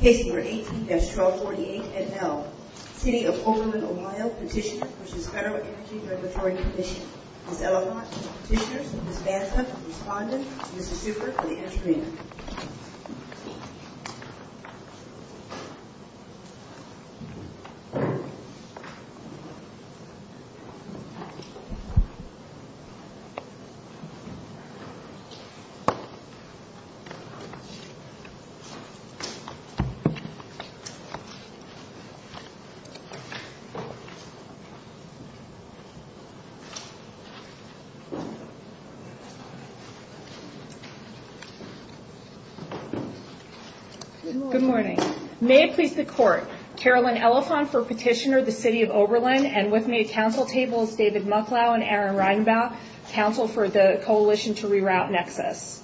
Case No. 18-1248, NL City of Oberlin, Ohio Petitioner v. Federal Energy Regulatory Commission Ms. Elahant, Petitioners Ms. Banta, Respondent Mr. Super, for the entry Ms. Elahant, Petitioner Good morning. May it please the Court, Carolyn Elahant for Petitioner, the City of Oberlin, and with me at Council Tables, David Mucklau and Aaron Reinbaugh, Council for the Coalition to Reroute Nexus.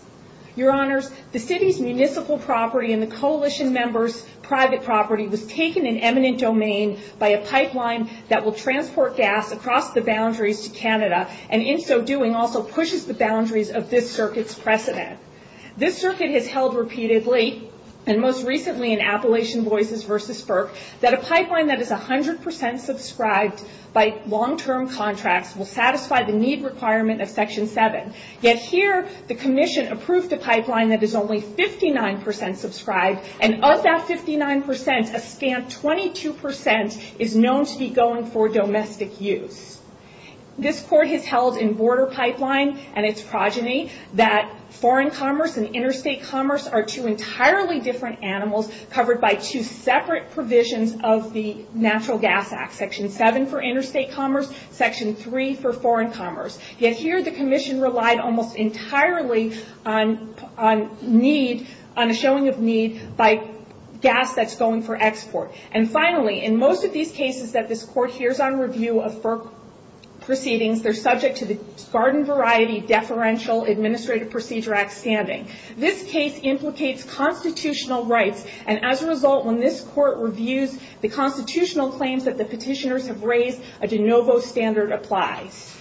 Your Honors, the City's municipal property and the Coalition members' private property was taken in eminent domain by a pipeline that will transport gas across the boundaries to Canada and in so doing also pushes the boundaries of this circuit's precedent. This circuit has held repeatedly, and most recently in Appalachian Voices v. FERC, that a pipeline that is 100% subscribed by long-term contracts will satisfy the need requirement of Section 7. Yet here, the Commission approved a pipeline that is only 59% subscribed and of that 59%, a scant 22% is known to be going for domestic use. This Court has held in Border Pipeline and its progeny that foreign commerce and interstate commerce are two entirely different animals covered by two separate provisions of the Natural Gas Act, Section 7 for interstate commerce, Section 3 for foreign commerce. Yet here, the Commission relied almost entirely on a showing of need by gas that's going for export. And finally, in most of these cases that this Court hears on review of FERC proceedings, they're subject to the Garden Variety Deferential Administrative Procedure Act standing. This case implicates constitutional rights and as a result, when this Court reviews the constitutional claims that the petitioners have raised, a de novo standard applies.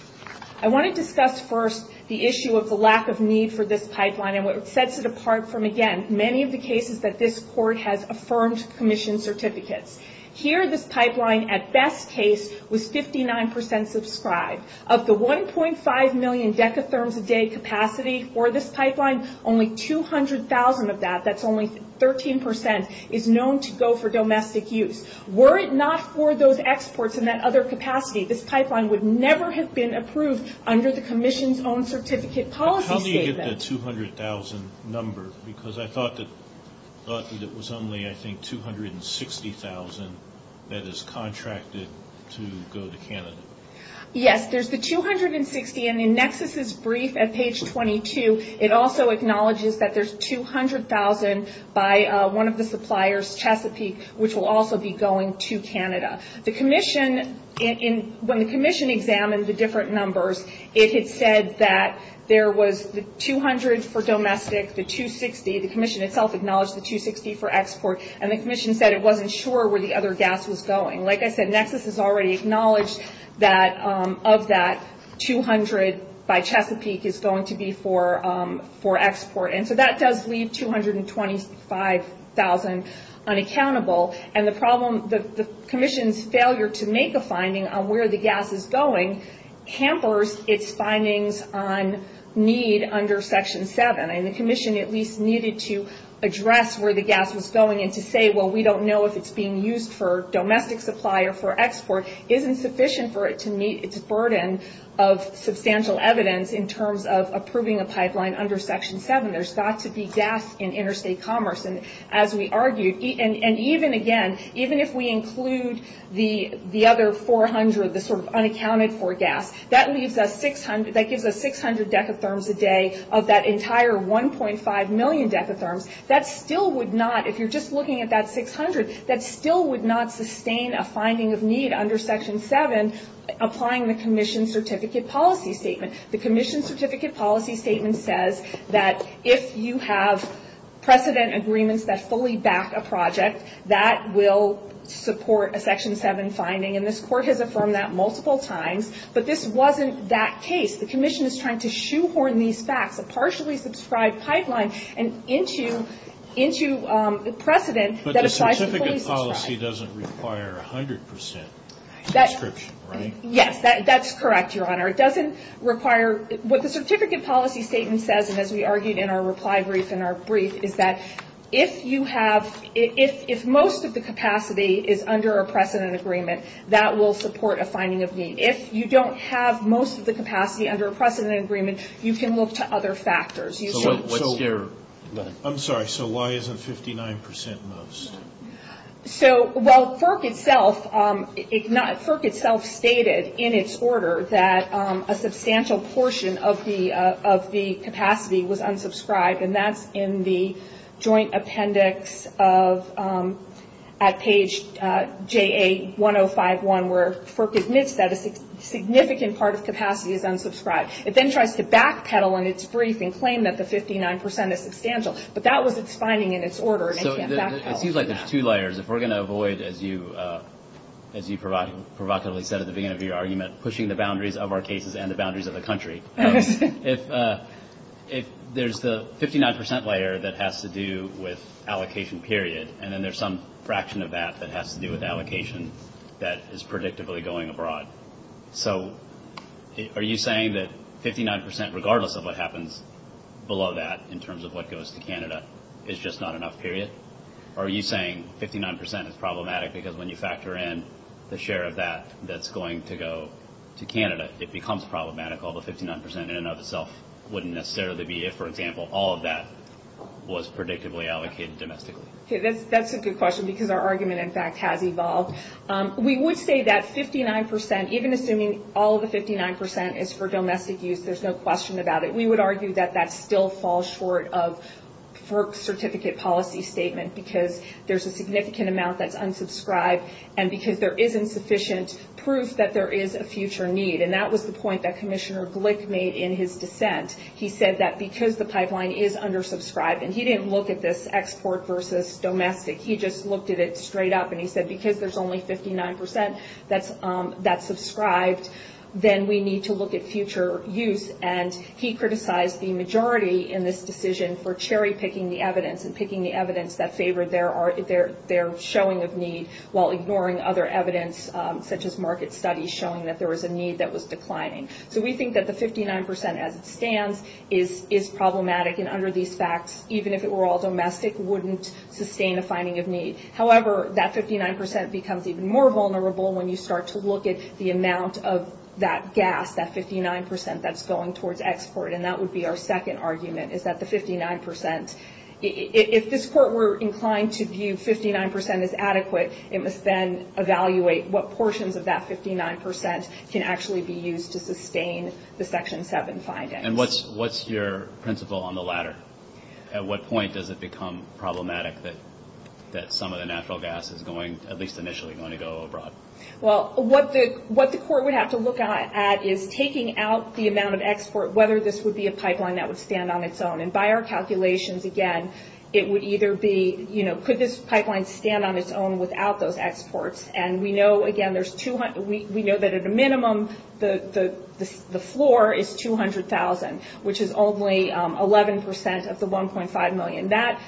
I want to discuss first the issue of the lack of need for this pipeline and what sets it apart from, again, many of the cases that this Court has affirmed Commission certificates. Here, this pipeline, at best case, was 59% subscribed. Of the 1.5 million decatherms a day capacity for this pipeline, only 200,000 of that, that's only 13%, is known to go for domestic use. Were it not for those exports and that other capacity, this pipeline would never have been approved under the Commission's own certificate policy statement. How do you get the 200,000 number? Because I thought that it was only, I think, 260,000 that is contracted to go to Canada. Yes, there's the 260, and in Nexus's brief at page 22, it also acknowledges that there's 200,000 by one of the suppliers, Chesapeake, which will also be going to Canada. The Commission, when the Commission examined the different numbers, it had said that there was the 200 for domestic, the 260, the Commission itself acknowledged the 260 for export, and the Commission said it wasn't sure where the other gas was going. Like I said, Nexus has already acknowledged that of that, 200 by Chesapeake is going to be for export. That does leave 225,000 unaccountable. The Commission's failure to make a finding on where the gas is going hampers its findings on need under Section 7. The Commission at least needed to address where the gas was going and to say, well, we don't know if it's being used for domestic supply or for export, isn't sufficient for it to meet its burden of substantial evidence in terms of approving a pipeline under Section 7. There's got to be gas in interstate commerce. As we argued, and even again, even if we include the other 400, the sort of unaccounted for gas, that gives us 600 decatherms a day of that entire 1.5 million decatherms. That still would not, if you're just looking at that 600, that still would not sustain a finding of need under Section 7 applying the Commission Certificate Policy Statement. The Commission Certificate Policy Statement says that if you have precedent agreements that fully back a project, that will support a Section 7 finding, and this Court has affirmed that multiple times, but this wasn't that case. The Commission is trying to shoehorn these facts, a partially subscribed pipeline, into precedent that applies to fully subscribed. But the Certificate Policy doesn't require 100 percent subscription, right? Yes, that's correct, Your Honor. It doesn't require, what the Certificate Policy Statement says, and as we argued in our reply brief in our brief, is that if you have, if most of the capacity is under a precedent agreement, that will support a finding of need. If you don't have most of the capacity under a precedent agreement, you can look to other factors. I'm sorry, so why isn't 59 percent most? So while FERC itself stated in its order that a substantial portion of the capacity was unsubscribed, and that's in the Joint Appendix at page JA-1051, where FERC admits that a significant part of capacity is unsubscribed. It then tries to backpedal in its brief and claim that the 59 percent is substantial, but that was its finding in its order, and it can't backpedal from that. So it seems like there's two layers. If we're going to avoid, as you provocatively said at the beginning of your argument, pushing the boundaries of our cases and the boundaries of the country, if there's the 59 percent layer that has to do with allocation period, and then there's some fraction of that that has to do with allocation that is predictably going abroad. So are you saying that 59 percent, regardless of what happens below that, in terms of what goes to Canada, is just not enough, period? Or are you saying 59 percent is problematic because when you factor in the share of that that's going to go to Canada, it becomes problematic, although 59 percent in and of itself wouldn't necessarily be if, for example, all of that was predictably allocated domestically? That's a good question because our argument, in fact, has evolved. We would say that 59 percent, even assuming all of the 59 percent is for domestic use, there's no question about it. We would argue that that still falls short of FERC certificate policy statement because there's a significant amount that's unsubscribed and because there isn't sufficient proof that there is a future need, and that was the point that Commissioner Glick made in his dissent. He said that because the pipeline is undersubscribed, and he didn't look at this export versus domestic. He just looked at it straight up, and he said because there's only 59 percent that's subscribed, then we need to look at future use, and he criticized the majority in this decision for cherry-picking the evidence and picking the evidence that favored their showing of need while ignoring other evidence, such as market studies showing that there was a need that was declining. So we think that the 59 percent as it stands is problematic, and under these facts, even if it were all domestic, wouldn't sustain a finding of need. However, that 59 percent becomes even more vulnerable when you start to look at the amount of that gas, that 59 percent that's going towards export, and that would be our second argument, is that the 59 percent, if this Court were inclined to view 59 percent as adequate, it must then evaluate what portions of that 59 percent can actually be used to sustain the Section 7 findings. And what's your principle on the latter? At what point does it become problematic that some of the natural gas is going, at least initially, going to go abroad? Well, what the Court would have to look at is taking out the amount of export, whether this would be a pipeline that would stand on its own, and by our calculations, again, it would either be, you know, could this pipeline stand on its own without those exports, and we know, again, there's 200, we know that at a minimum, the floor is 200,000, which is only 11 percent of the 1.5 million. That,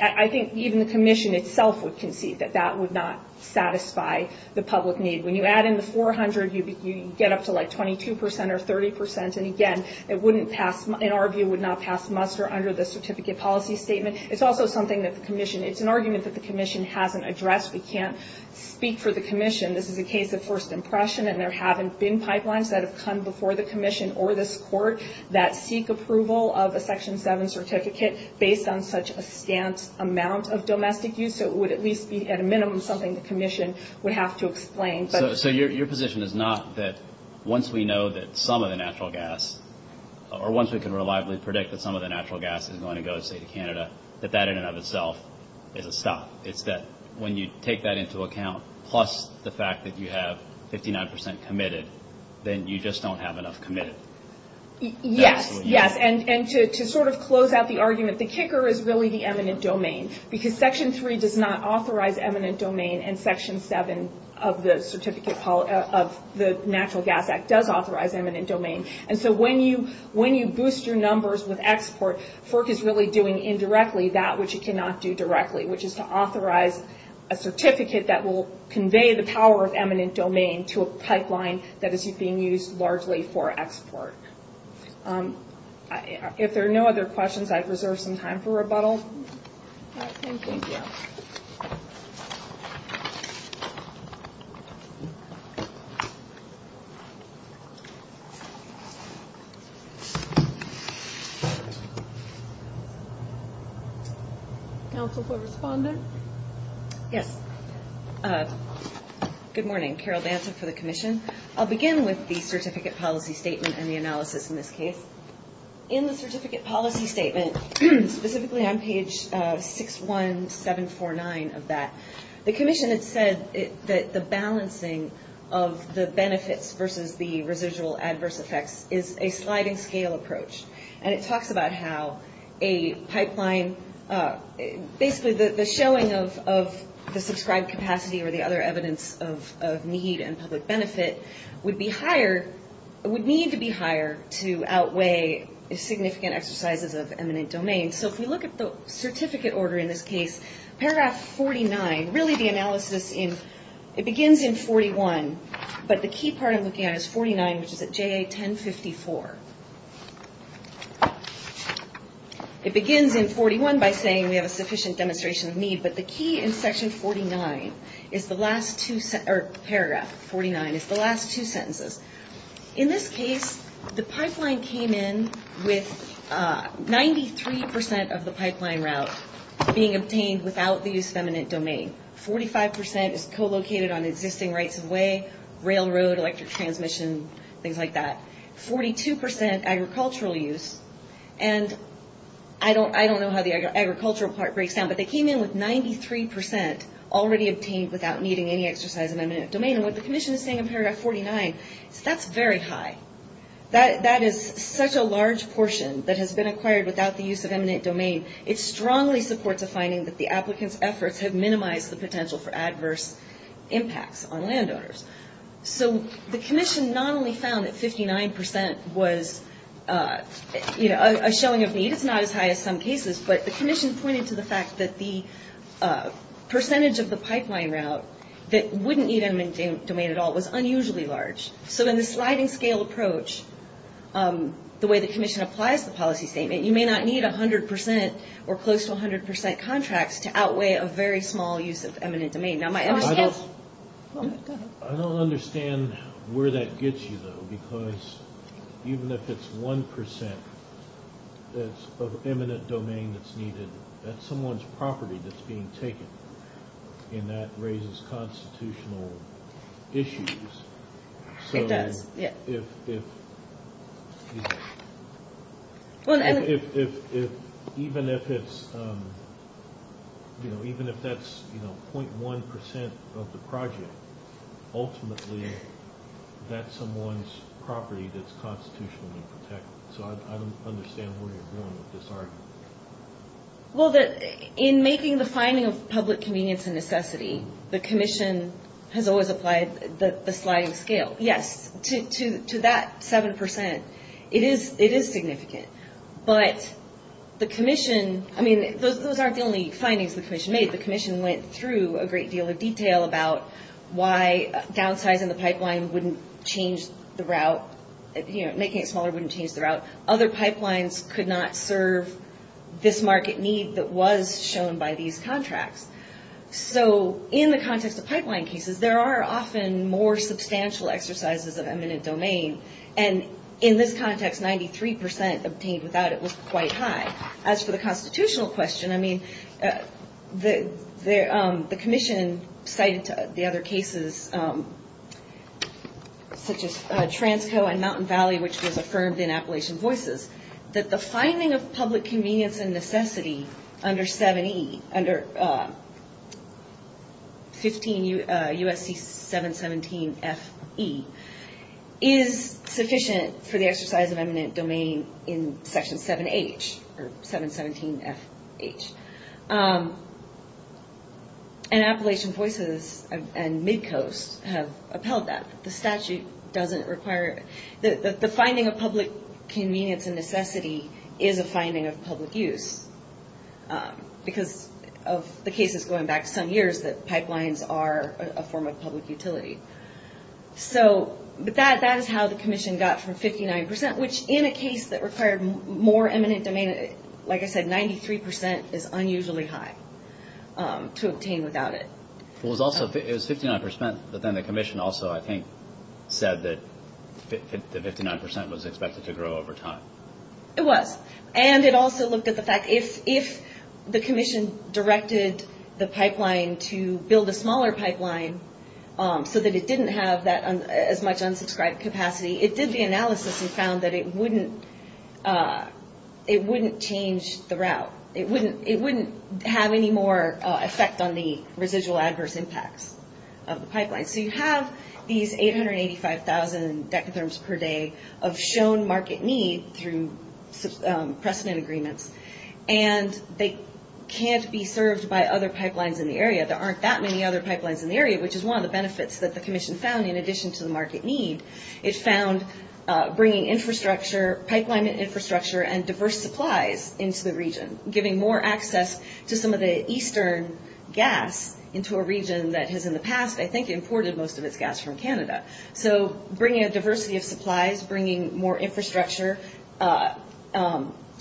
I think even the Commission itself would concede that that would not satisfy the public need. When you add in the 400, you get up to like 22 percent or 30 percent, and again, it wouldn't pass, in our view, would not pass muster under the Certificate Policy Statement. It's also something that the Commission, it's an argument that the Commission hasn't addressed. We can't speak for the Commission. This is a case of first impression, and there haven't been pipelines that have come before the Commission or this Court that seek approval of a Section 7 certificate based on such a stant amount of domestic use, so it would at least be, at a minimum, something the Commission would have to explain. So your position is not that once we know that some of the natural gas, or once we can reliably predict that some of the natural gas is going to go, say, to Canada, that that in and of itself is a stop. It's that when you take that into account, plus the fact that you have 59 percent committed, then you just don't have enough committed. Yes, yes, and to sort of close out the argument, the kicker is really the eminent domain, because Section 3 does not authorize eminent domain, and Section 7 of the Natural Gas Act does authorize eminent domain, and so when you boost your numbers with export, FERC is really doing indirectly that which it cannot do directly, which is to authorize a certificate that will convey the power of eminent domain to a pipeline that is being used largely for export. If there are no other questions, I reserve some time for rebuttal. Thank you. Counsel for Respondent? Yes. Good morning. Carol Danza for the Commission. I'll begin with the Certificate Policy Statement and the analysis in this case. In the Certificate Policy Statement, specifically on page 61749 of that, the Commission had said that the balancing of the benefits versus the residual adverse effects is a sliding scale approach, and it talks about how a pipeline, basically the showing of the subscribed capacity or the other evidence of need and public benefit would need to be higher to outweigh significant exercises of eminent domain. So if we look at the certificate order in this case, paragraph 49, really the analysis in, it begins in 41, but the key part I'm looking at is 49, which is at JA1054. It begins in 41 by saying we have a sufficient demonstration of need, but the key in section 49 is the last two, or paragraph 49, is the last two sentences. In this case, the pipeline came in with 93 percent of the pipeline route being obtained without the use of eminent domain. Forty-five percent is co-located on existing rights of way, railroad, electric transmission, things like that. Forty-two percent agricultural use, and I don't know how the agricultural part breaks down, but they came in with 93 percent already obtained without needing any exercise of eminent domain, and what the commission is saying in paragraph 49 is that's very high. That is such a large portion that has been acquired without the use of eminent domain. It strongly supports a finding that the applicant's efforts have minimized the potential for adverse impacts on landowners. So the commission not only found that 59 percent was a showing of need, it's not as high as some cases, but the commission pointed to the fact that the percentage of the pipeline route that wouldn't need eminent domain at all was unusually large. So in the sliding scale approach, the way the commission applies the policy statement, you may not need 100 percent or close to 100 percent contracts to outweigh a very small use of eminent domain. I don't understand where that gets you, though, because even if it's 1 percent of eminent domain that's needed, that's someone's property that's being taken, and that raises constitutional issues. It does. So even if that's 0.1 percent of the project, ultimately that's someone's property that's constitutionally protected. So I don't understand what you're doing with this argument. Well, in making the finding of public convenience and necessity, the commission has always applied the sliding scale. Yes, to that 7 percent, it is significant. But the commission, I mean, those aren't the only findings the commission made. The commission went through a great deal of detail about why downsizing the pipeline wouldn't change the route, making it smaller wouldn't change the route. Other pipelines could not serve this market need that was shown by these contracts. So in the context of pipeline cases, there are often more substantial exercises of eminent domain. And in this context, 93 percent obtained without it was quite high. As for the constitutional question, I mean, the commission cited the other cases, such as Transco and Mountain Valley, which was affirmed in Appalachian Voices, that the finding of public convenience and necessity under 7E, under 15 USC 717FE, is sufficient for the exercise of eminent domain in Section 7H, or 717FH. And Appalachian Voices and Midcoast have upheld that. The statute doesn't require it. The finding of public convenience and necessity is a finding of public use, because of the cases going back some years that pipelines are a form of public utility. So that is how the commission got from 59 percent, which in a case that required more eminent domain, like I said, 93 percent is unusually high to obtain without it. It was 59 percent, but then the commission also, I think, said that 59 percent was expected to grow over time. It was. And it also looked at the fact, if the commission directed the pipeline to build a smaller pipeline so that it didn't have as much unsubscribed capacity, it did the analysis and found that it wouldn't change the route. It wouldn't have any more effect on the residual adverse impacts of the pipeline. So you have these 885,000 dekatherms per day of shown market need through precedent agreements, and they can't be served by other pipelines in the area. There aren't that many other pipelines in the area, which is one of the benefits that the commission found in addition to the market need. It found bringing infrastructure, pipeline infrastructure, and diverse supplies into the region, giving more access to some of the eastern gas into a region that has in the past, I think, imported most of its gas from Canada. So bringing a diversity of supplies, bringing more infrastructure,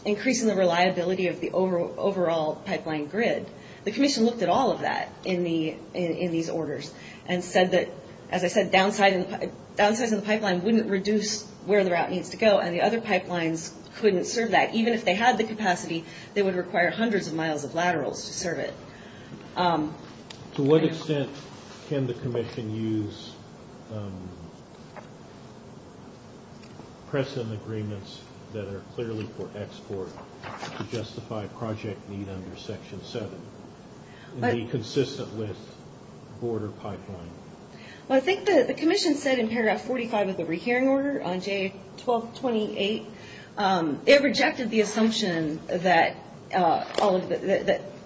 increasing the reliability of the overall pipeline grid. The commission looked at all of that in these orders and said that, as I said, downsizing the pipeline wouldn't reduce where the route needs to go, and the other pipelines couldn't serve that. Even if they had the capacity, they would require hundreds of miles of laterals to serve it. To what extent can the commission use precedent agreements that are clearly for export to justify project need under Section 7? Be consistent with border pipeline. Well, I think the commission said in paragraph 45 of the rehearing order on J1228, it rejected the assumption that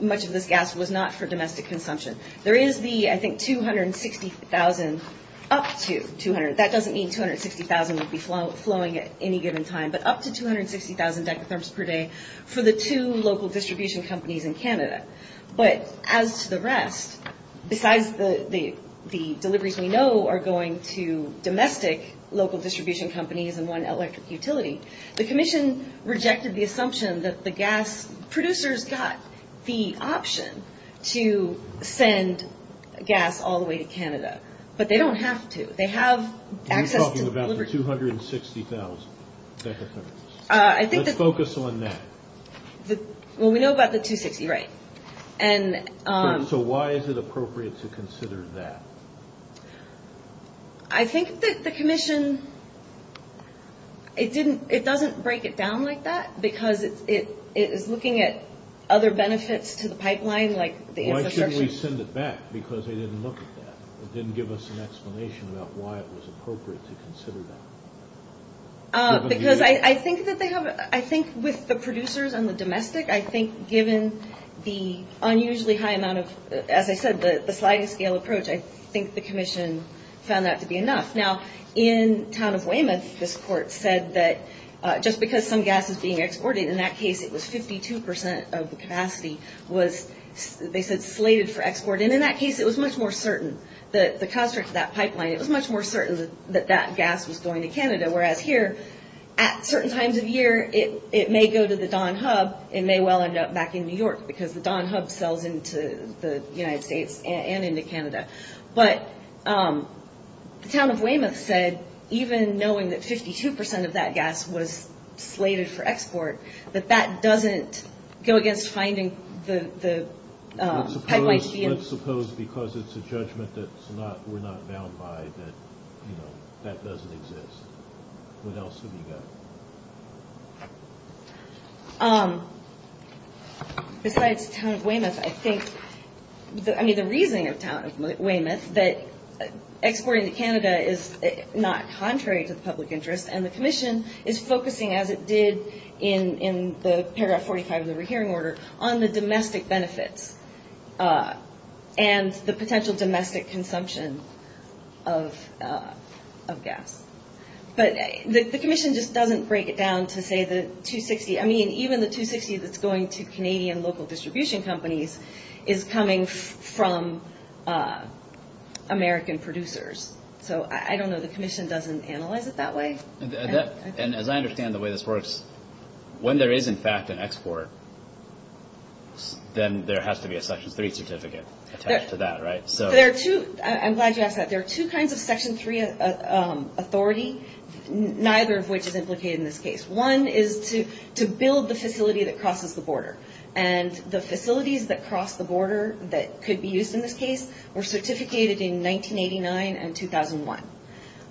much of this gas was not for domestic consumption. There is the, I think, 260,000 up to. That doesn't mean 260,000 would be flowing at any given time, but up to 260,000 decatherms per day for the two local distribution companies in Canada. But as to the rest, besides the deliveries we know are going to domestic local distribution companies and one electric utility, the commission rejected the assumption that the gas producers got the option to send gas all the way to Canada. But they don't have to. They have access to delivery. You're talking about the 260,000 decatherms. Let's focus on that. Well, we know about the 260,000, right. So why is it appropriate to consider that? I think that the commission, it doesn't break it down like that because it is looking at other benefits to the pipeline like the infrastructure. Why shouldn't we send it back? Because they didn't look at that. It didn't give us an explanation about why it was appropriate to consider that. Because I think with the producers and the domestic, I think given the unusually high amount of, as I said, the sliding scale approach, I think the commission found that to be enough. Now, in town of Weymouth, this court said that just because some gas is being exported, in that case it was 52% of the capacity was, they said, slated for export. And in that case, it was much more certain. The construct of that pipeline, it was much more certain that that gas was going to Canada. Whereas here, at certain times of year, it may go to the Don Hub. It may well end up back in New York because the Don Hub sells into the United States and into Canada. But the town of Weymouth said, even knowing that 52% of that gas was slated for export, that that doesn't go against finding the pipeline. Let's suppose because it's a judgment that we're not bound by that that doesn't exist. What else have you got? Besides town of Weymouth, I think, I mean, the reasoning of town of Weymouth, that exporting to Canada is not contrary to the public interest, and the commission is focusing, as it did in the paragraph 45 of the rehearing order, on the domestic benefits and the potential domestic consumption of gas. But the commission just doesn't break it down to, say, the 260. I mean, even the 260 that's going to Canadian local distribution companies is coming from American producers. So I don't know. The commission doesn't analyze it that way. As I understand the way this works, when there is, in fact, an export, then there has to be a Section 3 certificate attached to that, right? I'm glad you asked that. There are two kinds of Section 3 authority, neither of which is implicated in this case. One is to build the facility that crosses the border. The facilities that cross the border that could be used in this case were certificated in 1989 and 2001.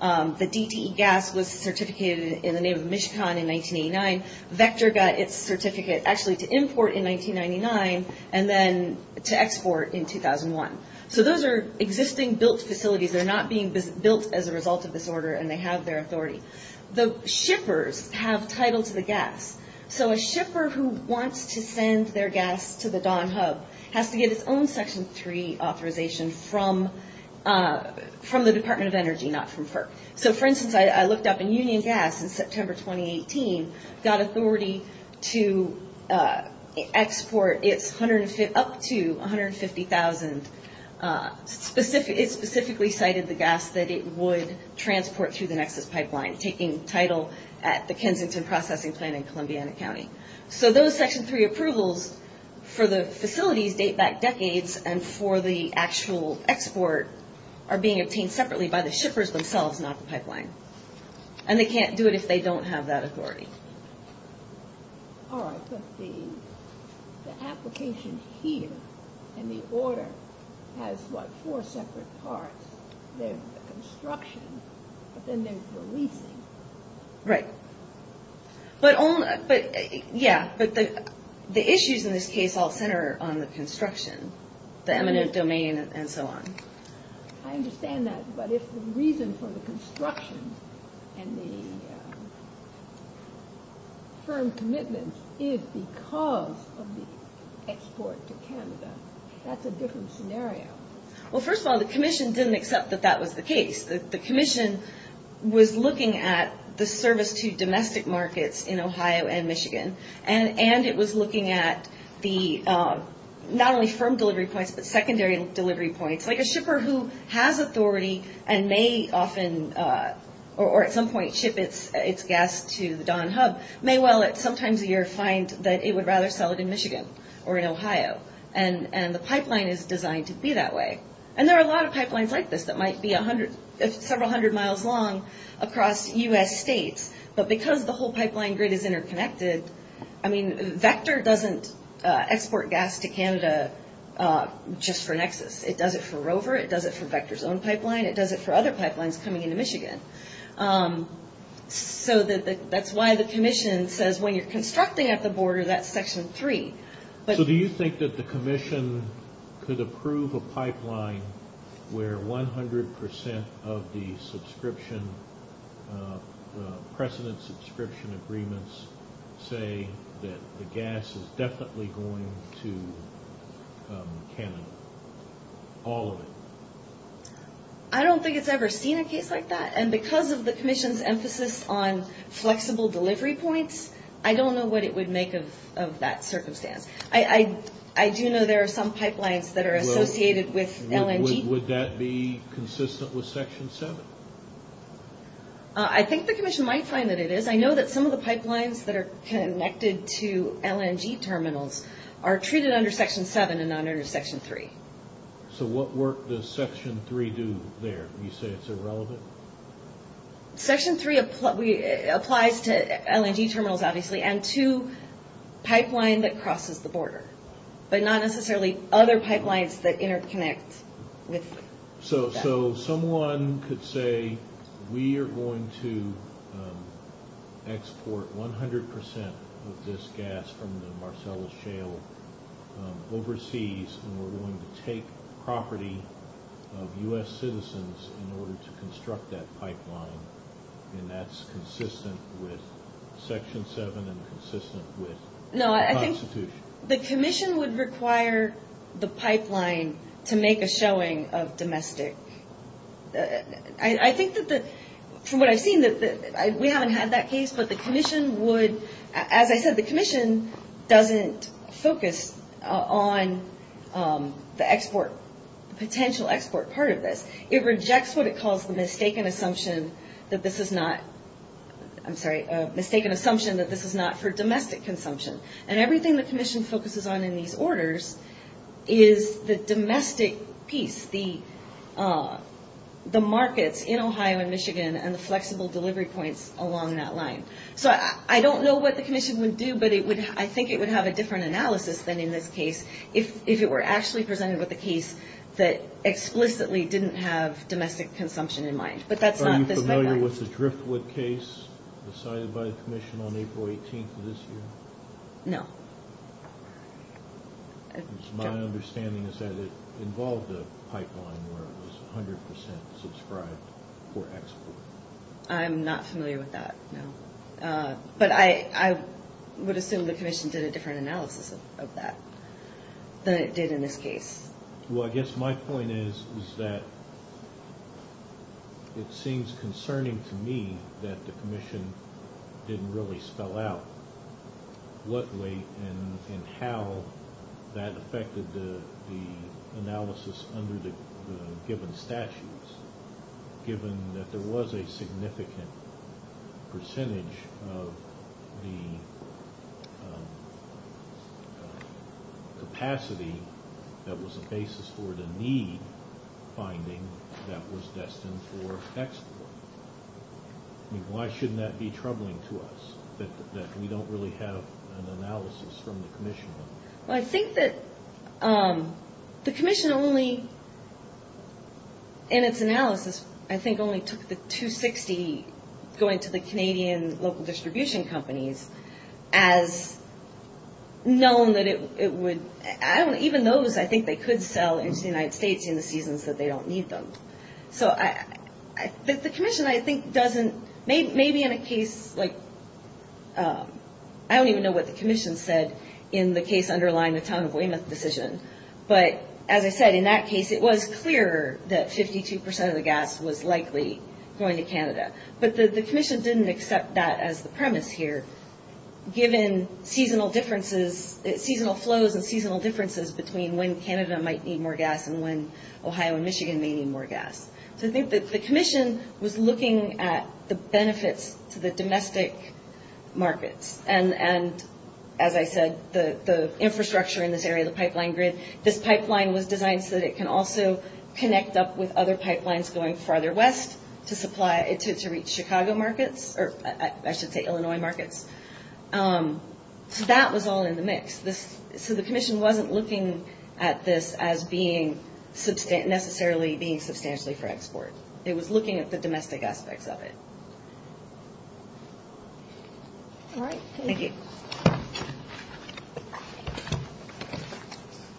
The DTE gas was certificated in the name of Michicon in 1989. Vector got its certificate, actually, to import in 1999 and then to export in 2001. So those are existing built facilities. They're not being built as a result of this order, and they have their authority. The shippers have title to the gas. So a shipper who wants to send their gas to the Don Hub has to get its own Section 3 authorization from the Department of Energy, not from FERC. So, for instance, I looked up, and Union Gas in September 2018 got authority to export up to 150,000. It specifically cited the gas that it would transport through the Nexus Pipeline, taking title at the Kensington Processing Plant in Columbiana County. So those Section 3 approvals for the facilities date back decades, and for the actual export are being obtained separately by the shippers themselves, not the pipeline. And they can't do it if they don't have that authority. All right, but the application here in the order has, what, four separate parts. There's the construction, but then there's the leasing. Right. Yeah, but the issues in this case all center on the construction, the eminent domain, and so on. I understand that, but if the reason for the construction and the firm commitments is because of the export to Canada, that's a different scenario. Well, first of all, the Commission didn't accept that that was the case. The Commission was looking at the service to domestic markets in Ohio and Michigan, and it was looking at the, not only firm delivery points, but secondary delivery points. Like a shipper who has authority and may often, or at some point, ship its gas to the Don Hub, may well, sometimes a year, find that it would rather sell it in Michigan or in Ohio. And the pipeline is designed to be that way. And there are a lot of pipelines like this that might be several hundred miles long across U.S. states. But because the whole pipeline grid is interconnected, I mean, Vector doesn't export gas to Canada just for Nexus. It does it for Rover. It does it for Vector's own pipeline. It does it for other pipelines coming into Michigan. So that's why the Commission says when you're constructing at the border, that's section three. So do you think that the Commission could approve a pipeline where 100% of the subscription, precedent subscription agreements say that the gas is definitely going to Canada? All of it? I don't think it's ever seen a case like that. And because of the Commission's emphasis on flexible delivery points, I don't know what it would make of that circumstance. I do know there are some pipelines that are associated with LNG. Would that be consistent with section seven? I think the Commission might find that it is. I know that some of the pipelines that are connected to LNG terminals are treated under section seven and not under section three. So what work does section three do there? You say it's irrelevant? Section three applies to LNG terminals, obviously, and to pipeline that crosses the border, but not necessarily other pipelines that interconnect with that. So someone could say we are going to export 100% of this gas from the Marcellus Shale overseas, and we're going to take property of U.S. citizens in order to construct that pipeline, and that's consistent with section seven and consistent with the Constitution? No, I think the Commission would require the pipeline to make a showing of domestic. I think that from what I've seen, we haven't had that case, but the Commission would, as I said, the Commission doesn't focus on the potential export part of this. It rejects what it calls the mistaken assumption that this is not for domestic consumption, and everything the Commission focuses on in these orders is the domestic piece, the markets in Ohio and Michigan and the flexible delivery points along that line. So I don't know what the Commission would do, but I think it would have a different analysis than in this case if it were actually presented with a case that explicitly didn't have domestic consumption in mind, but that's not this pipeline. Are you familiar with the Driftwood case decided by the Commission on April 18th of this year? No. My understanding is that it involved a pipeline where it was 100% subscribed for export. I'm not familiar with that, no. But I would assume the Commission did a different analysis of that than it did in this case. Well, I guess my point is that it seems concerning to me that the Commission didn't really spell out what weight and how that affected the analysis under the given statutes, given that there was a significant percentage of the capacity that was the basis for the need finding that was destined for export. Why shouldn't that be troubling to us, that we don't really have an analysis from the Commission? Well, I think that the Commission only, in its analysis, I think only took the 260 going to the Canadian local distribution companies as known that it would, even those I think they could sell into the United States in the seasons that they don't need them. The Commission, I don't even know what the Commission said in the case underlying the Town of Weymouth decision, but as I said, in that case it was clear that 52% of the gas was likely going to Canada. But the Commission didn't accept that as the premise here, given seasonal flows and seasonal differences between when Canada might need more gas and when Ohio and Michigan may need more gas. So I think that the Commission was looking at the benefits to the domestic markets. And as I said, the infrastructure in this area, the pipeline grid, this pipeline was designed so that it can also connect up with other pipelines going farther west to reach Chicago markets, or I should say Illinois markets. So that was all in the mix. So the Commission wasn't looking at this as necessarily being substantially for export. It was looking at the domestic aspects of it. All right. Thank you.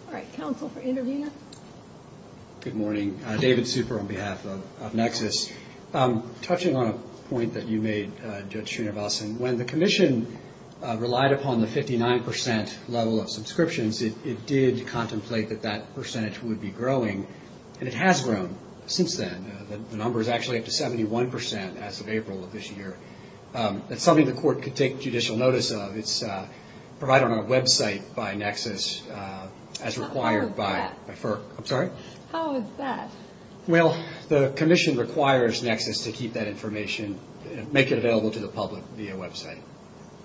All right. Counsel for intervener. Good morning. David Super on behalf of Nexus. Touching on a point that you made, Judge Srinivasan, when the Commission relied upon the 59% level of subscriptions, it did contemplate that that percentage would be growing, and it has grown since then. The number is actually up to 71% as of April of this year. That's something the Court could take judicial notice of. It's provided on our website by Nexus as required by FERC. I'm sorry? How is that? Well, the Commission requires Nexus to keep that information, make it available to the public via website,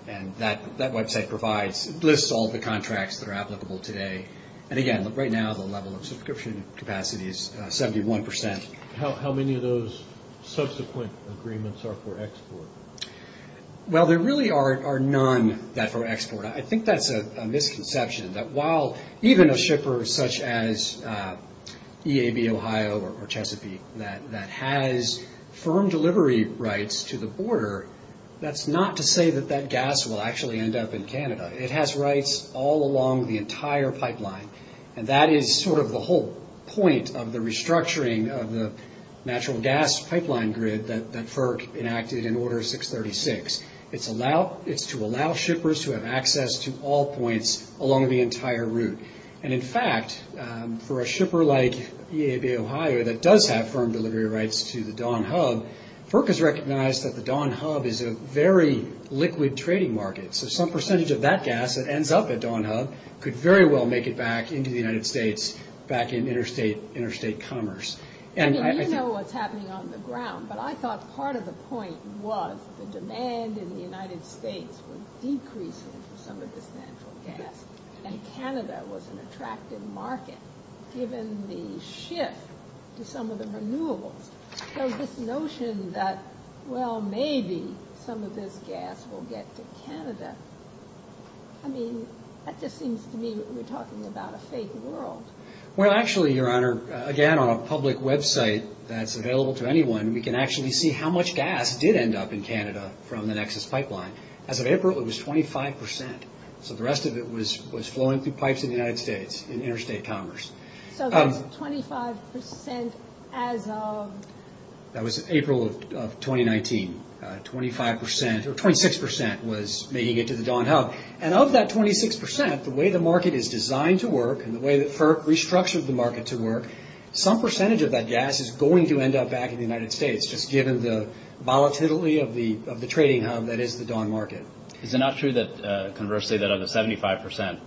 and that website lists all the contracts that are applicable today. And, again, right now the level of subscription capacity is 71%. How many of those subsequent agreements are for export? Well, there really are none that are for export. I think that's a misconception that while even a shipper such as EAB Ohio or Chesapeake that has firm delivery rights to the border, that's not to say that that gas will actually end up in Canada. It has rights all along the entire pipeline, and that is sort of the whole point of the restructuring of the natural gas pipeline grid that FERC enacted in Order 636. It's to allow shippers to have access to all points along the entire route. And, in fact, for a shipper like EAB Ohio that does have firm delivery rights to the Don Hub, FERC has recognized that the Don Hub is a very liquid trading market, so some percentage of that gas that ends up at Don Hub could very well make it back into the United States, back in interstate commerce. I mean, you know what's happening on the ground, but I thought part of the point was the demand in the United States was decreasing for some of this natural gas, and Canada was an attractive market given the shift to some of the renewables. So this notion that, well, maybe some of this gas will get to Canada, I mean, that just seems to me like we're talking about a fake world. Well, actually, Your Honor, again, on a public website that's available to anyone, we can actually see how much gas did end up in Canada from the Nexus pipeline. As of April, it was 25 percent, so the rest of it was flowing through pipes in the United States in interstate commerce. So that's 25 percent as of? That was April of 2019. Twenty-six percent was making it to the Don Hub, and of that 26 percent, the way the market is designed to work and the way that FERC restructured the market to work, some percentage of that gas is going to end up back in the United States, just given the volatility of the trading hub that is the Don Market. Is it not true that, conversely, that of the 75 percent,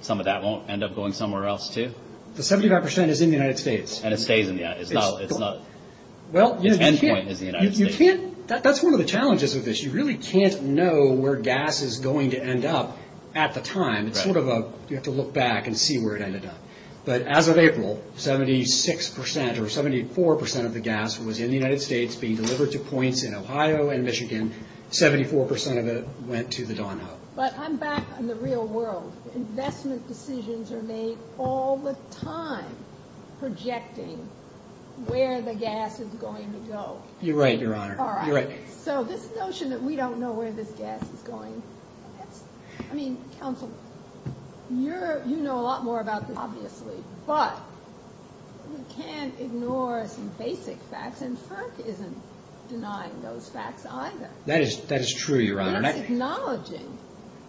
some of that won't end up going somewhere else, too? The 75 percent is in the United States. And it stays in the United States. Its endpoint is the United States. That's one of the challenges of this. You really can't know where gas is going to end up at the time. You have to look back and see where it ended up. But as of April, 76 percent or 74 percent of the gas was in the United States, being delivered to points in Ohio and Michigan. Seventy-four percent of it went to the Don Hub. But I'm back in the real world. Investment decisions are made all the time, projecting where the gas is going to go. You're right, Your Honor. All right, so this notion that we don't know where this gas is going, I mean, counsel, you know a lot more about this, obviously, but we can't ignore some basic facts, and FERC isn't denying those facts either. That is true, Your Honor. It's acknowledging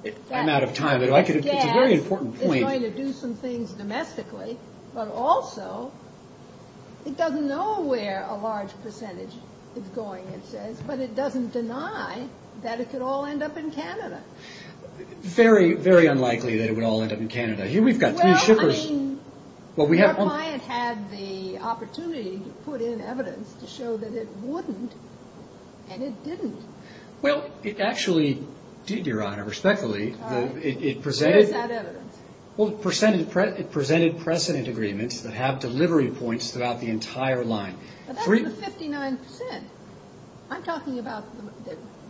that this gas is going to do some things domestically, but also it doesn't know where a large percentage is going, it says, but it doesn't deny that it could all end up in Canada. Very, very unlikely that it would all end up in Canada. Here we've got three shippers. Well, I mean, our client had the opportunity to put in evidence to show that it wouldn't, and it didn't. Well, it actually did, Your Honor, respectfully. Where is that evidence? Well, it presented precedent agreements that have delivery points throughout the entire line. But that's the 59%. I'm talking about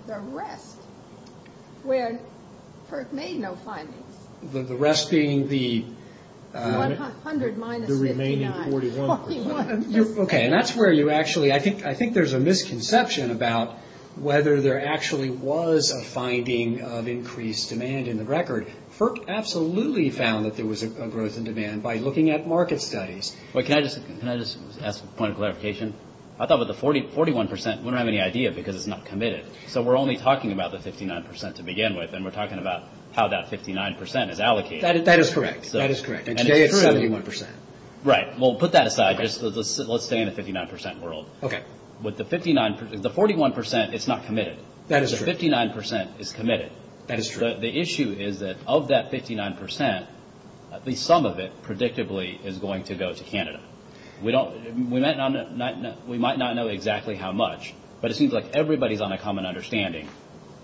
the rest, where FERC made no findings. The rest being the remaining 41%. Okay, and that's where you actually, I think there's a misconception about whether there actually was a finding of increased demand in the record. FERC absolutely found that there was a growth in demand by looking at market studies. Wait, can I just ask a point of clarification? I thought that the 41% wouldn't have any idea because it's not committed. So we're only talking about the 59% to begin with, and we're talking about how that 59% is allocated. That is correct. That is correct. And today it's 71%. Right. Well, put that aside. Let's stay in the 59% world. Okay. With the 51%, it's not committed. That is true. The 59% is committed. That is true. The issue is that of that 59%, at least some of it predictably is going to go to Canada. We might not know exactly how much, but it seems like everybody is on a common understanding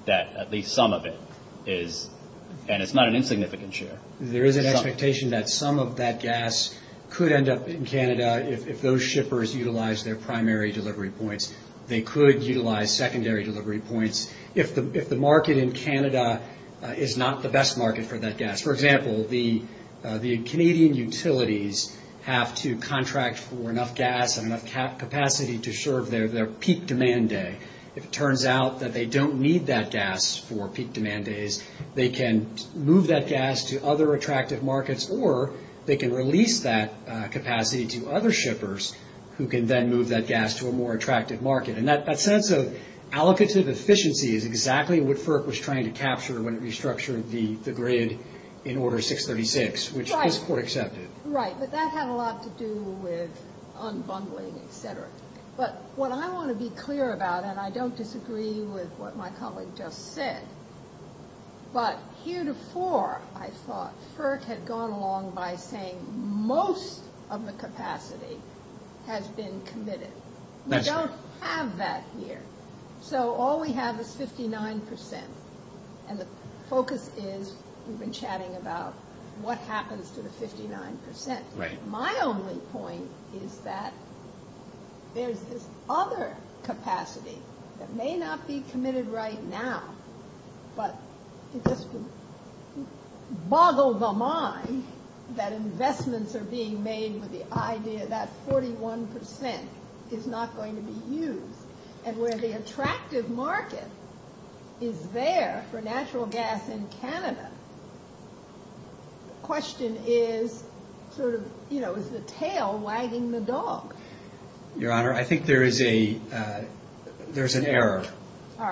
that at least some of it is, and it's not an insignificant share. There is an expectation that some of that gas could end up in Canada if those shippers utilized their primary delivery points. They could utilize secondary delivery points. If the market in Canada is not the best market for that gas. For example, the Canadian utilities have to contract for enough gas and enough capacity to serve their peak demand day. If it turns out that they don't need that gas for peak demand days, they can move that gas to other attractive markets, or they can release that capacity to other shippers who can then move that gas to a more attractive market. That sense of allocative efficiency is exactly what FERC was trying to capture when it restructured the grid in Order 636, which was court-accepted. Right, but that had a lot to do with unbundling, etc. What I want to be clear about, and I don't disagree with what my colleague just said, but heretofore, I thought, FERC had gone along by saying most of the capacity has been committed. We don't have that here. So all we have is 59%, and the focus is we've been chatting about what happens to the 59%. My only point is that there's this other capacity that may not be committed right now, but it just would boggle the mind that investments are being made with the idea that 41% is not going to be used, and where the attractive market is there for natural gas in Canada, the question is sort of, you know, is the tail wagging the dog? Your Honor, I think there's an error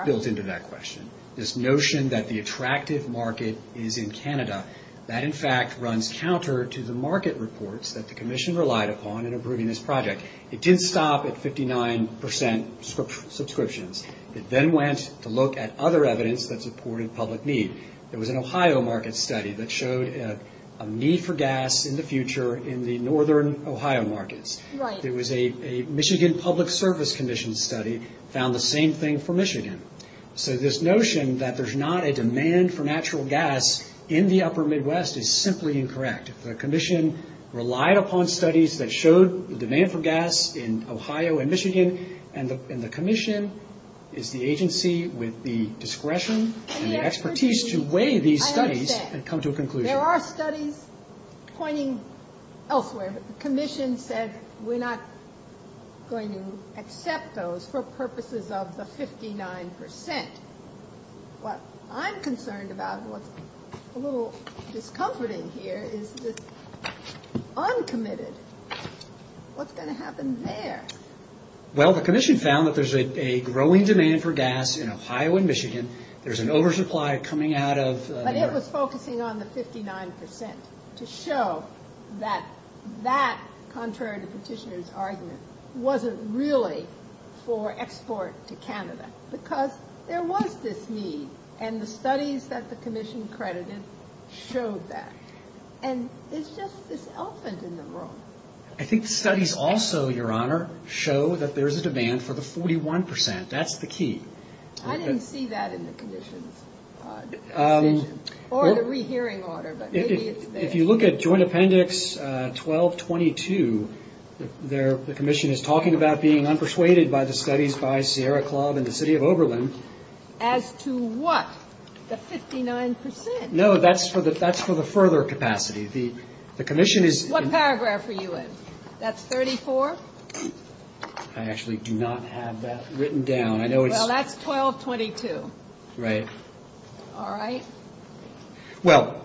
built into that question. This notion that the attractive market is in Canada, that in fact runs counter to the market reports that the Commission relied upon in approving this project. It didn't stop at 59% subscriptions. It then went to look at other evidence that supported public need. There was an Ohio market study that showed a need for gas in the future in the northern Ohio markets. There was a Michigan Public Service Commission study that found the same thing for Michigan. So this notion that there's not a demand for natural gas in the upper Midwest is simply incorrect. The Commission relied upon studies that showed the demand for gas in Ohio and Michigan, and the Commission is the agency with the discretion and the expertise to weigh these studies and come to a conclusion. There are studies pointing elsewhere, but the Commission said we're not going to accept those for purposes of the 59%. What I'm concerned about, what's a little discomforting here, is the uncommitted. What's going to happen there? Well, the Commission found that there's a growing demand for gas in Ohio and Michigan. There's an oversupply coming out of New York. But it was focusing on the 59% to show that that contrary to Petitioner's argument wasn't really for export to Canada because there was this need, and the studies that the Commission credited showed that. And it's just this elephant in the room. I think the studies also, Your Honor, show that there's a demand for the 41%. That's the key. I didn't see that in the Commission's decision or the rehearing order, but maybe it's there. If you look at Joint Appendix 1222, the Commission is talking about being unpersuaded by the studies by Sierra Club and the City of Oberlin. As to what, the 59%? No, that's for the further capacity. What paragraph are you in? That's 34? I actually do not have that written down. Well, that's 1222. Right. All right. Well,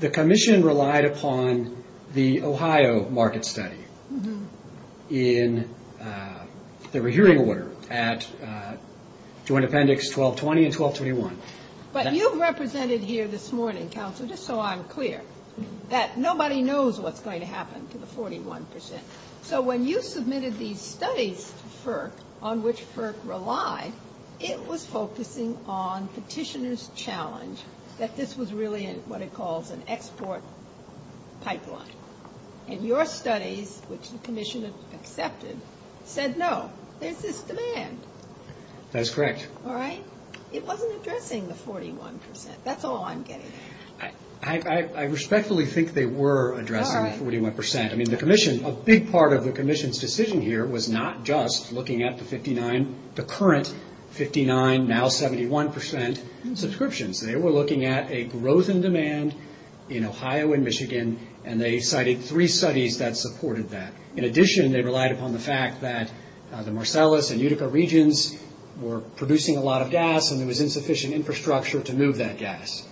the Commission relied upon the Ohio market study in the rehearing order at Joint Appendix 1220 and 1221. But you represented here this morning, Counselor, just so I'm clear, that nobody knows what's going to happen to the 41%. So when you submitted these studies to FERC on which FERC relied, it was focusing on petitioners' challenge that this was really what it calls an export pipeline. And your studies, which the Commission accepted, said, no, there's this demand. That's correct. All right? It wasn't addressing the 41%. That's all I'm getting at. I respectfully think they were addressing the 41%. All right. I mean, the Commission, a big part of the Commission's decision here was not just looking at the current 59%, now 71% subscriptions. They were looking at a growth in demand in Ohio and Michigan, and they cited three studies that supported that. In addition, they relied upon the fact that the Marcellus and Utica regions were producing a lot of gas and there was insufficient infrastructure to move that gas.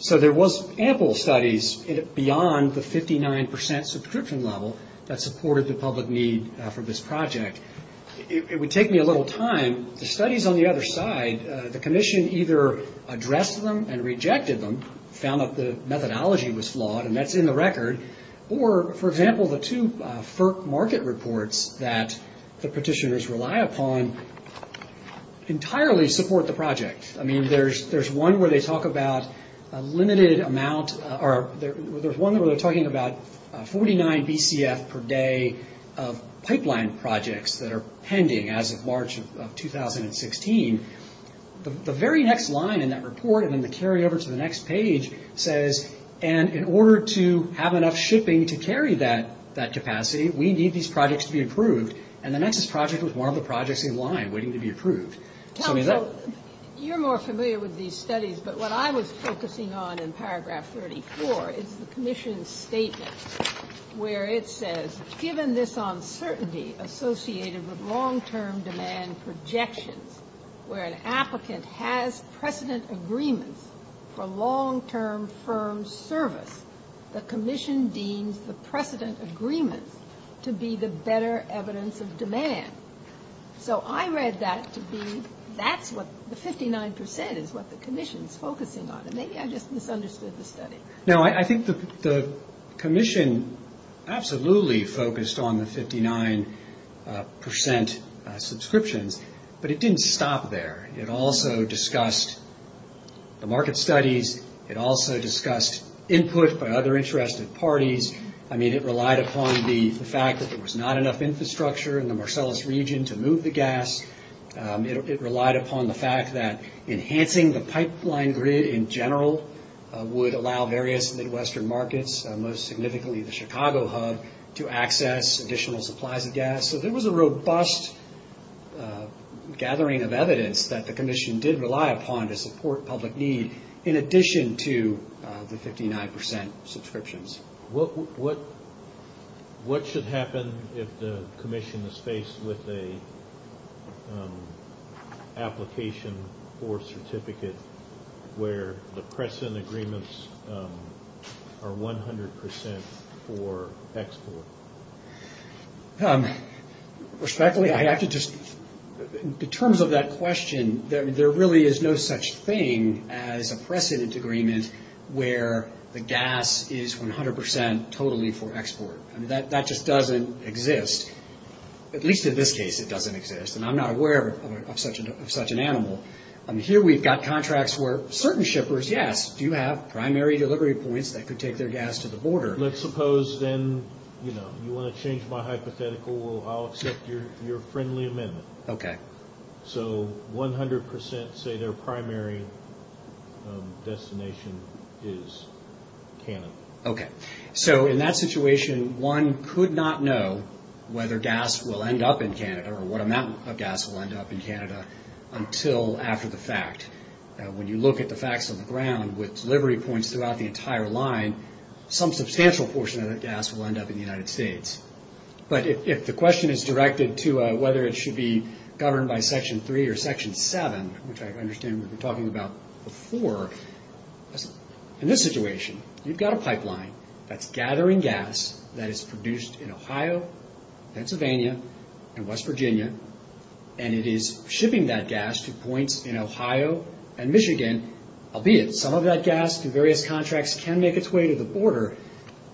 So there was ample studies beyond the 59% subscription level that supported the public need for this project. It would take me a little time. The studies on the other side, the Commission either addressed them and rejected them, found that the methodology was flawed, and that's in the record, or, for example, the two FERC market reports that the petitioners rely upon entirely support the project. I mean, there's one where they talk about a limited amount, or there's one where they're talking about 49 BCF per day of pipeline projects that are pending as of March of 2016. The very next line in that report and then the carryover to the next page says, and in order to have enough shipping to carry that capacity, we need these projects to be approved, and the Nexus project was one of the projects in line waiting to be approved. You're more familiar with these studies, but what I was focusing on in paragraph 34 is the Commission's statement where it says, given this uncertainty associated with long-term demand projections where an applicant has precedent agreements for long-term firm service, the Commission deems the precedent agreements to be the better evidence of demand. So I read that to be that's what the 59% is what the Commission's focusing on, and maybe I just misunderstood the study. Now, I think the Commission absolutely focused on the 59% subscriptions, but it didn't stop there. It also discussed the market studies. It also discussed input by other interested parties. I mean, it relied upon the fact that there was not enough infrastructure in the Marcellus region to move the gas. It relied upon the fact that enhancing the pipeline grid in general would allow various Midwestern markets, most significantly the Chicago hub, to access additional supplies of gas. So there was a robust gathering of evidence that the Commission did rely upon to support public need in addition to the 59% subscriptions. What should happen if the Commission is faced with an application for a certificate where the precedent agreements are 100% for export? Respectfully, I have to just, in terms of that question, there really is no such thing as a precedent agreement where the gas is 100% totally for export. I mean, that just doesn't exist. At least in this case it doesn't exist, and I'm not aware of such an animal. Here we've got contracts where certain shippers, yes, do have primary delivery points that could take their gas to the border. Let's suppose then, you know, you want to change my hypothetical, I'll accept your friendly amendment. Okay. So 100% say their primary destination is Canada. Okay. So in that situation, one could not know whether gas will end up in Canada or what amount of gas will end up in Canada until after the fact. When you look at the facts on the ground, with delivery points throughout the entire line, some substantial portion of that gas will end up in the United States. But if the question is directed to whether it should be governed by Section 3 or Section 7, which I understand we've been talking about before, in this situation you've got a pipeline that's gathering gas that is produced in Ohio, Pennsylvania, and West Virginia, and it is shipping that gas to points in Ohio and Michigan, albeit some of that gas through various contracts can make its way to the border.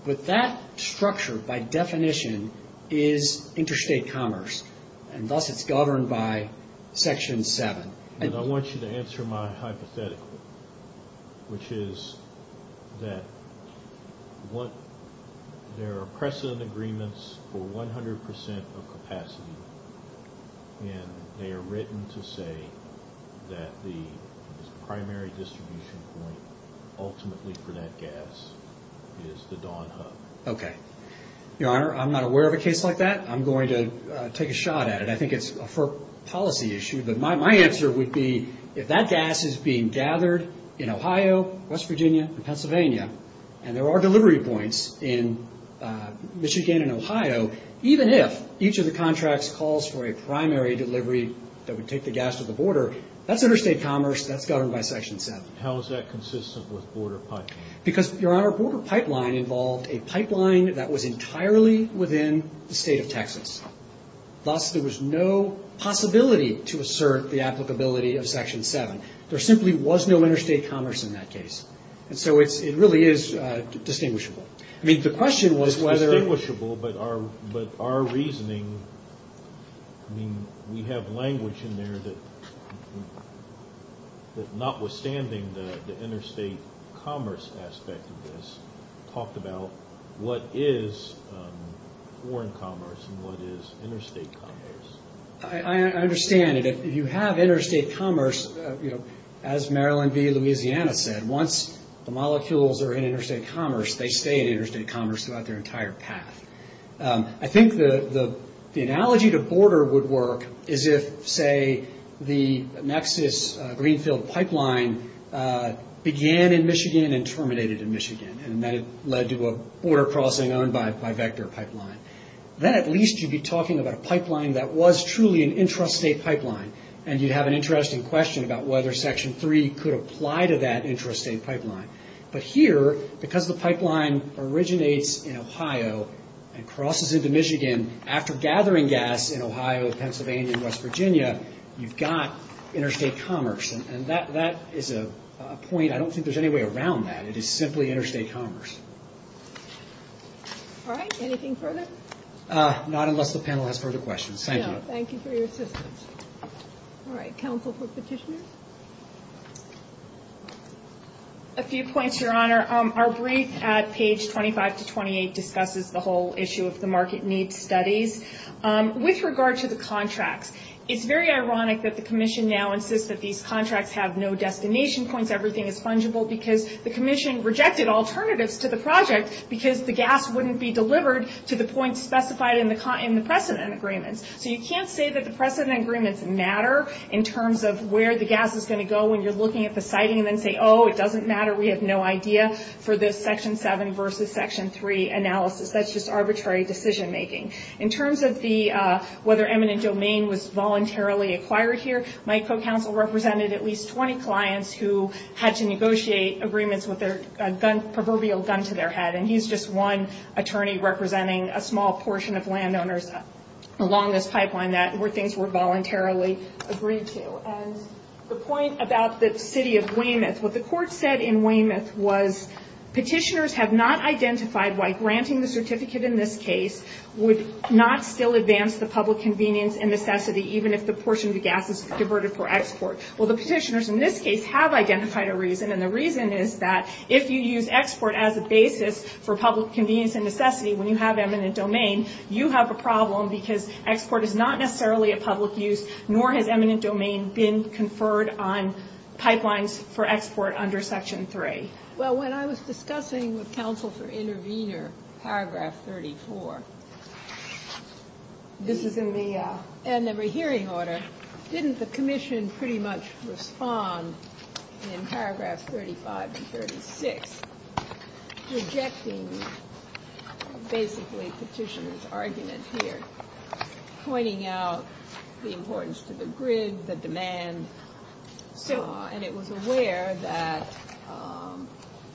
But that structure, by definition, is interstate commerce, and thus it's governed by Section 7. I want you to answer my hypothetical, which is that there are precedent agreements for 100% of capacity, and they are written to say that the primary distribution point ultimately for that gas is the Dawn Hub. Okay. Your Honor, I'm not aware of a case like that. I'm going to take a shot at it. I think it's a policy issue, but my answer would be, if that gas is being gathered in Ohio, West Virginia, and Pennsylvania, and there are delivery points in Michigan and Ohio, even if each of the contracts calls for a primary delivery that would take the gas to the border, that's interstate commerce. That's governed by Section 7. How is that consistent with border pipeline? Because, Your Honor, border pipeline involved a pipeline that was entirely within the state of Texas. Thus, there was no possibility to assert the applicability of Section 7. There simply was no interstate commerce in that case. And so it really is distinguishable. I mean, the question was whether— It's distinguishable, but our reasoning, I mean, we have language in there that notwithstanding the interstate commerce aspect of this, talked about what is foreign commerce and what is interstate commerce. I understand. If you have interstate commerce, as Maryland v. Louisiana said, once the molecules are in interstate commerce, they stay in interstate commerce throughout their entire path. I think the analogy to border would work as if, say, the Nexus Greenfield Pipeline began in Michigan and terminated in Michigan, and that it led to a border crossing owned by Vector Pipeline. Then at least you'd be talking about a pipeline that was truly an intrastate pipeline, and you'd have an interesting question about whether Section 3 could apply to that intrastate pipeline. But here, because the pipeline originates in Ohio and crosses into Michigan after gathering gas in Ohio, Pennsylvania, and West Virginia, you've got interstate commerce. And that is a point—I don't think there's any way around that. It is simply interstate commerce. All right, anything further? Not unless the panel has further questions. Thank you. Thank you for your assistance. All right, counsel for petitioners? A few points, Your Honor. Our brief at page 25 to 28 discusses the whole issue of the market needs studies. With regard to the contracts, it's very ironic that the Commission now insists that these contracts have no destination points, everything is fungible, because the Commission rejected alternatives to the project because the gas wouldn't be delivered to the points specified in the precedent agreements. So you can't say that the precedent agreements matter in terms of where the gas is going to go when you're looking at the siting, and then say, oh, it doesn't matter, we have no idea for this Section 7 versus Section 3 analysis. That's just arbitrary decision-making. In terms of whether eminent domain was voluntarily acquired here, my co-counsel represented at least 20 clients who had to negotiate agreements with a proverbial gun to their head, and he's just one attorney representing a small portion of landowners along this pipeline where things were voluntarily agreed to. And the point about the city of Weymouth, what the court said in Weymouth was petitioners have not identified why granting the certificate in this case would not still advance the public convenience and necessity even if the portion of the gas is diverted for export. Well, the petitioners in this case have identified a reason, and the reason is that if you use export as a basis for public convenience and necessity when you have eminent domain, you have a problem because export is not necessarily a public use, nor has eminent domain been conferred on pipelines for export under Section 3. Well, when I was discussing with counsel for intervener Paragraph 34, this is in the hearing order, didn't the commission pretty much respond in Paragraph 35 and 36 rejecting basically petitioners' argument here, pointing out the importance to the grid, the demand, and it was aware that,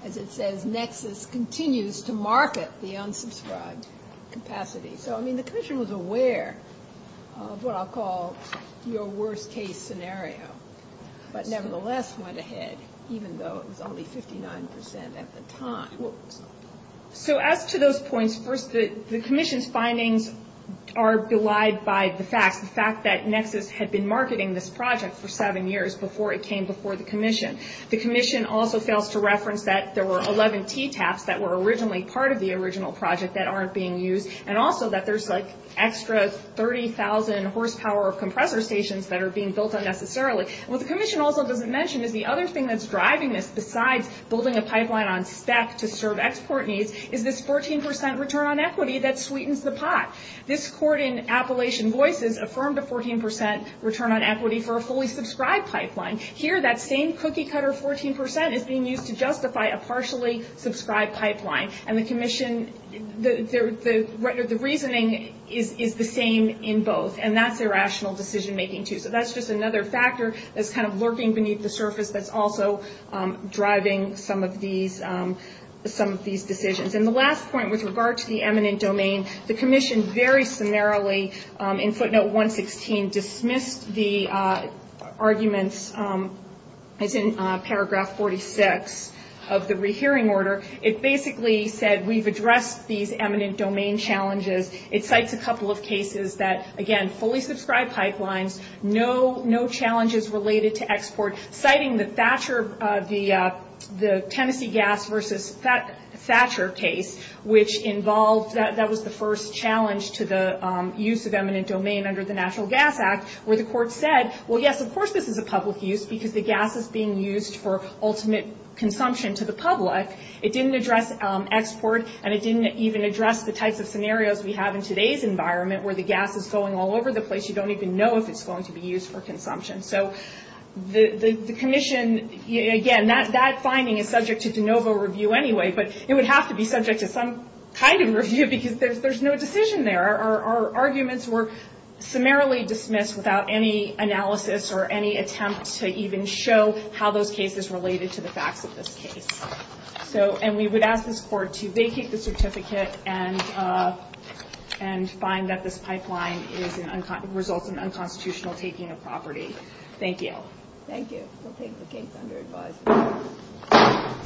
as it says, nexus continues to market the unsubscribed capacity. So, I mean, the commission was aware of what I'll call your worst-case scenario, but nevertheless went ahead even though it was only 59 percent at the time. So, as to those points, first, the commission's findings are belied by the facts, the fact that nexus had been marketing this project for seven years before it came before the commission. The commission also fails to reference that there were 11 TTAPs that were originally part of the original project that aren't being used, and also that there's, like, extra 30,000 horsepower of compressor stations that are being built unnecessarily. What the commission also doesn't mention is the other thing that's driving this, besides building a pipeline on spec to serve export needs, is this 14 percent return on equity that sweetens the pot. This court in Appalachian Voices affirmed a 14 percent return on equity for a fully-subscribed pipeline. Here, that same cookie-cutter 14 percent is being used to justify a partially-subscribed pipeline, and the commission, the reasoning is the same in both, and that's irrational decision-making, too. So that's just another factor that's kind of lurking beneath the surface that's also driving some of these decisions. And the last point, with regard to the eminent domain, the commission very summarily, in footnote 116, dismissed the arguments, as in paragraph 46 of the rehearing order. It basically said, we've addressed these eminent domain challenges. It cites a couple of cases that, again, fully-subscribed pipelines, no challenges related to export. Citing the Tennessee gas versus Thatcher case, that was the first challenge to the use of eminent domain under the Natural Gas Act, where the court said, well, yes, of course this is a public use, because the gas is being used for ultimate consumption to the public. It didn't address export, and it didn't even address the types of scenarios we have in today's environment, where the gas is going all over the place. You don't even know if it's going to be used for consumption. So the commission, again, that finding is subject to de novo review anyway, but it would have to be subject to some kind of review, because there's no decision there. Our arguments were summarily dismissed without any analysis or any attempt to even show how those cases related to the facts of this case. And we would ask this court to vacate the certificate and find that this pipeline results in unconstitutional taking of property. Thank you. Thank you. We'll take the case under advisement.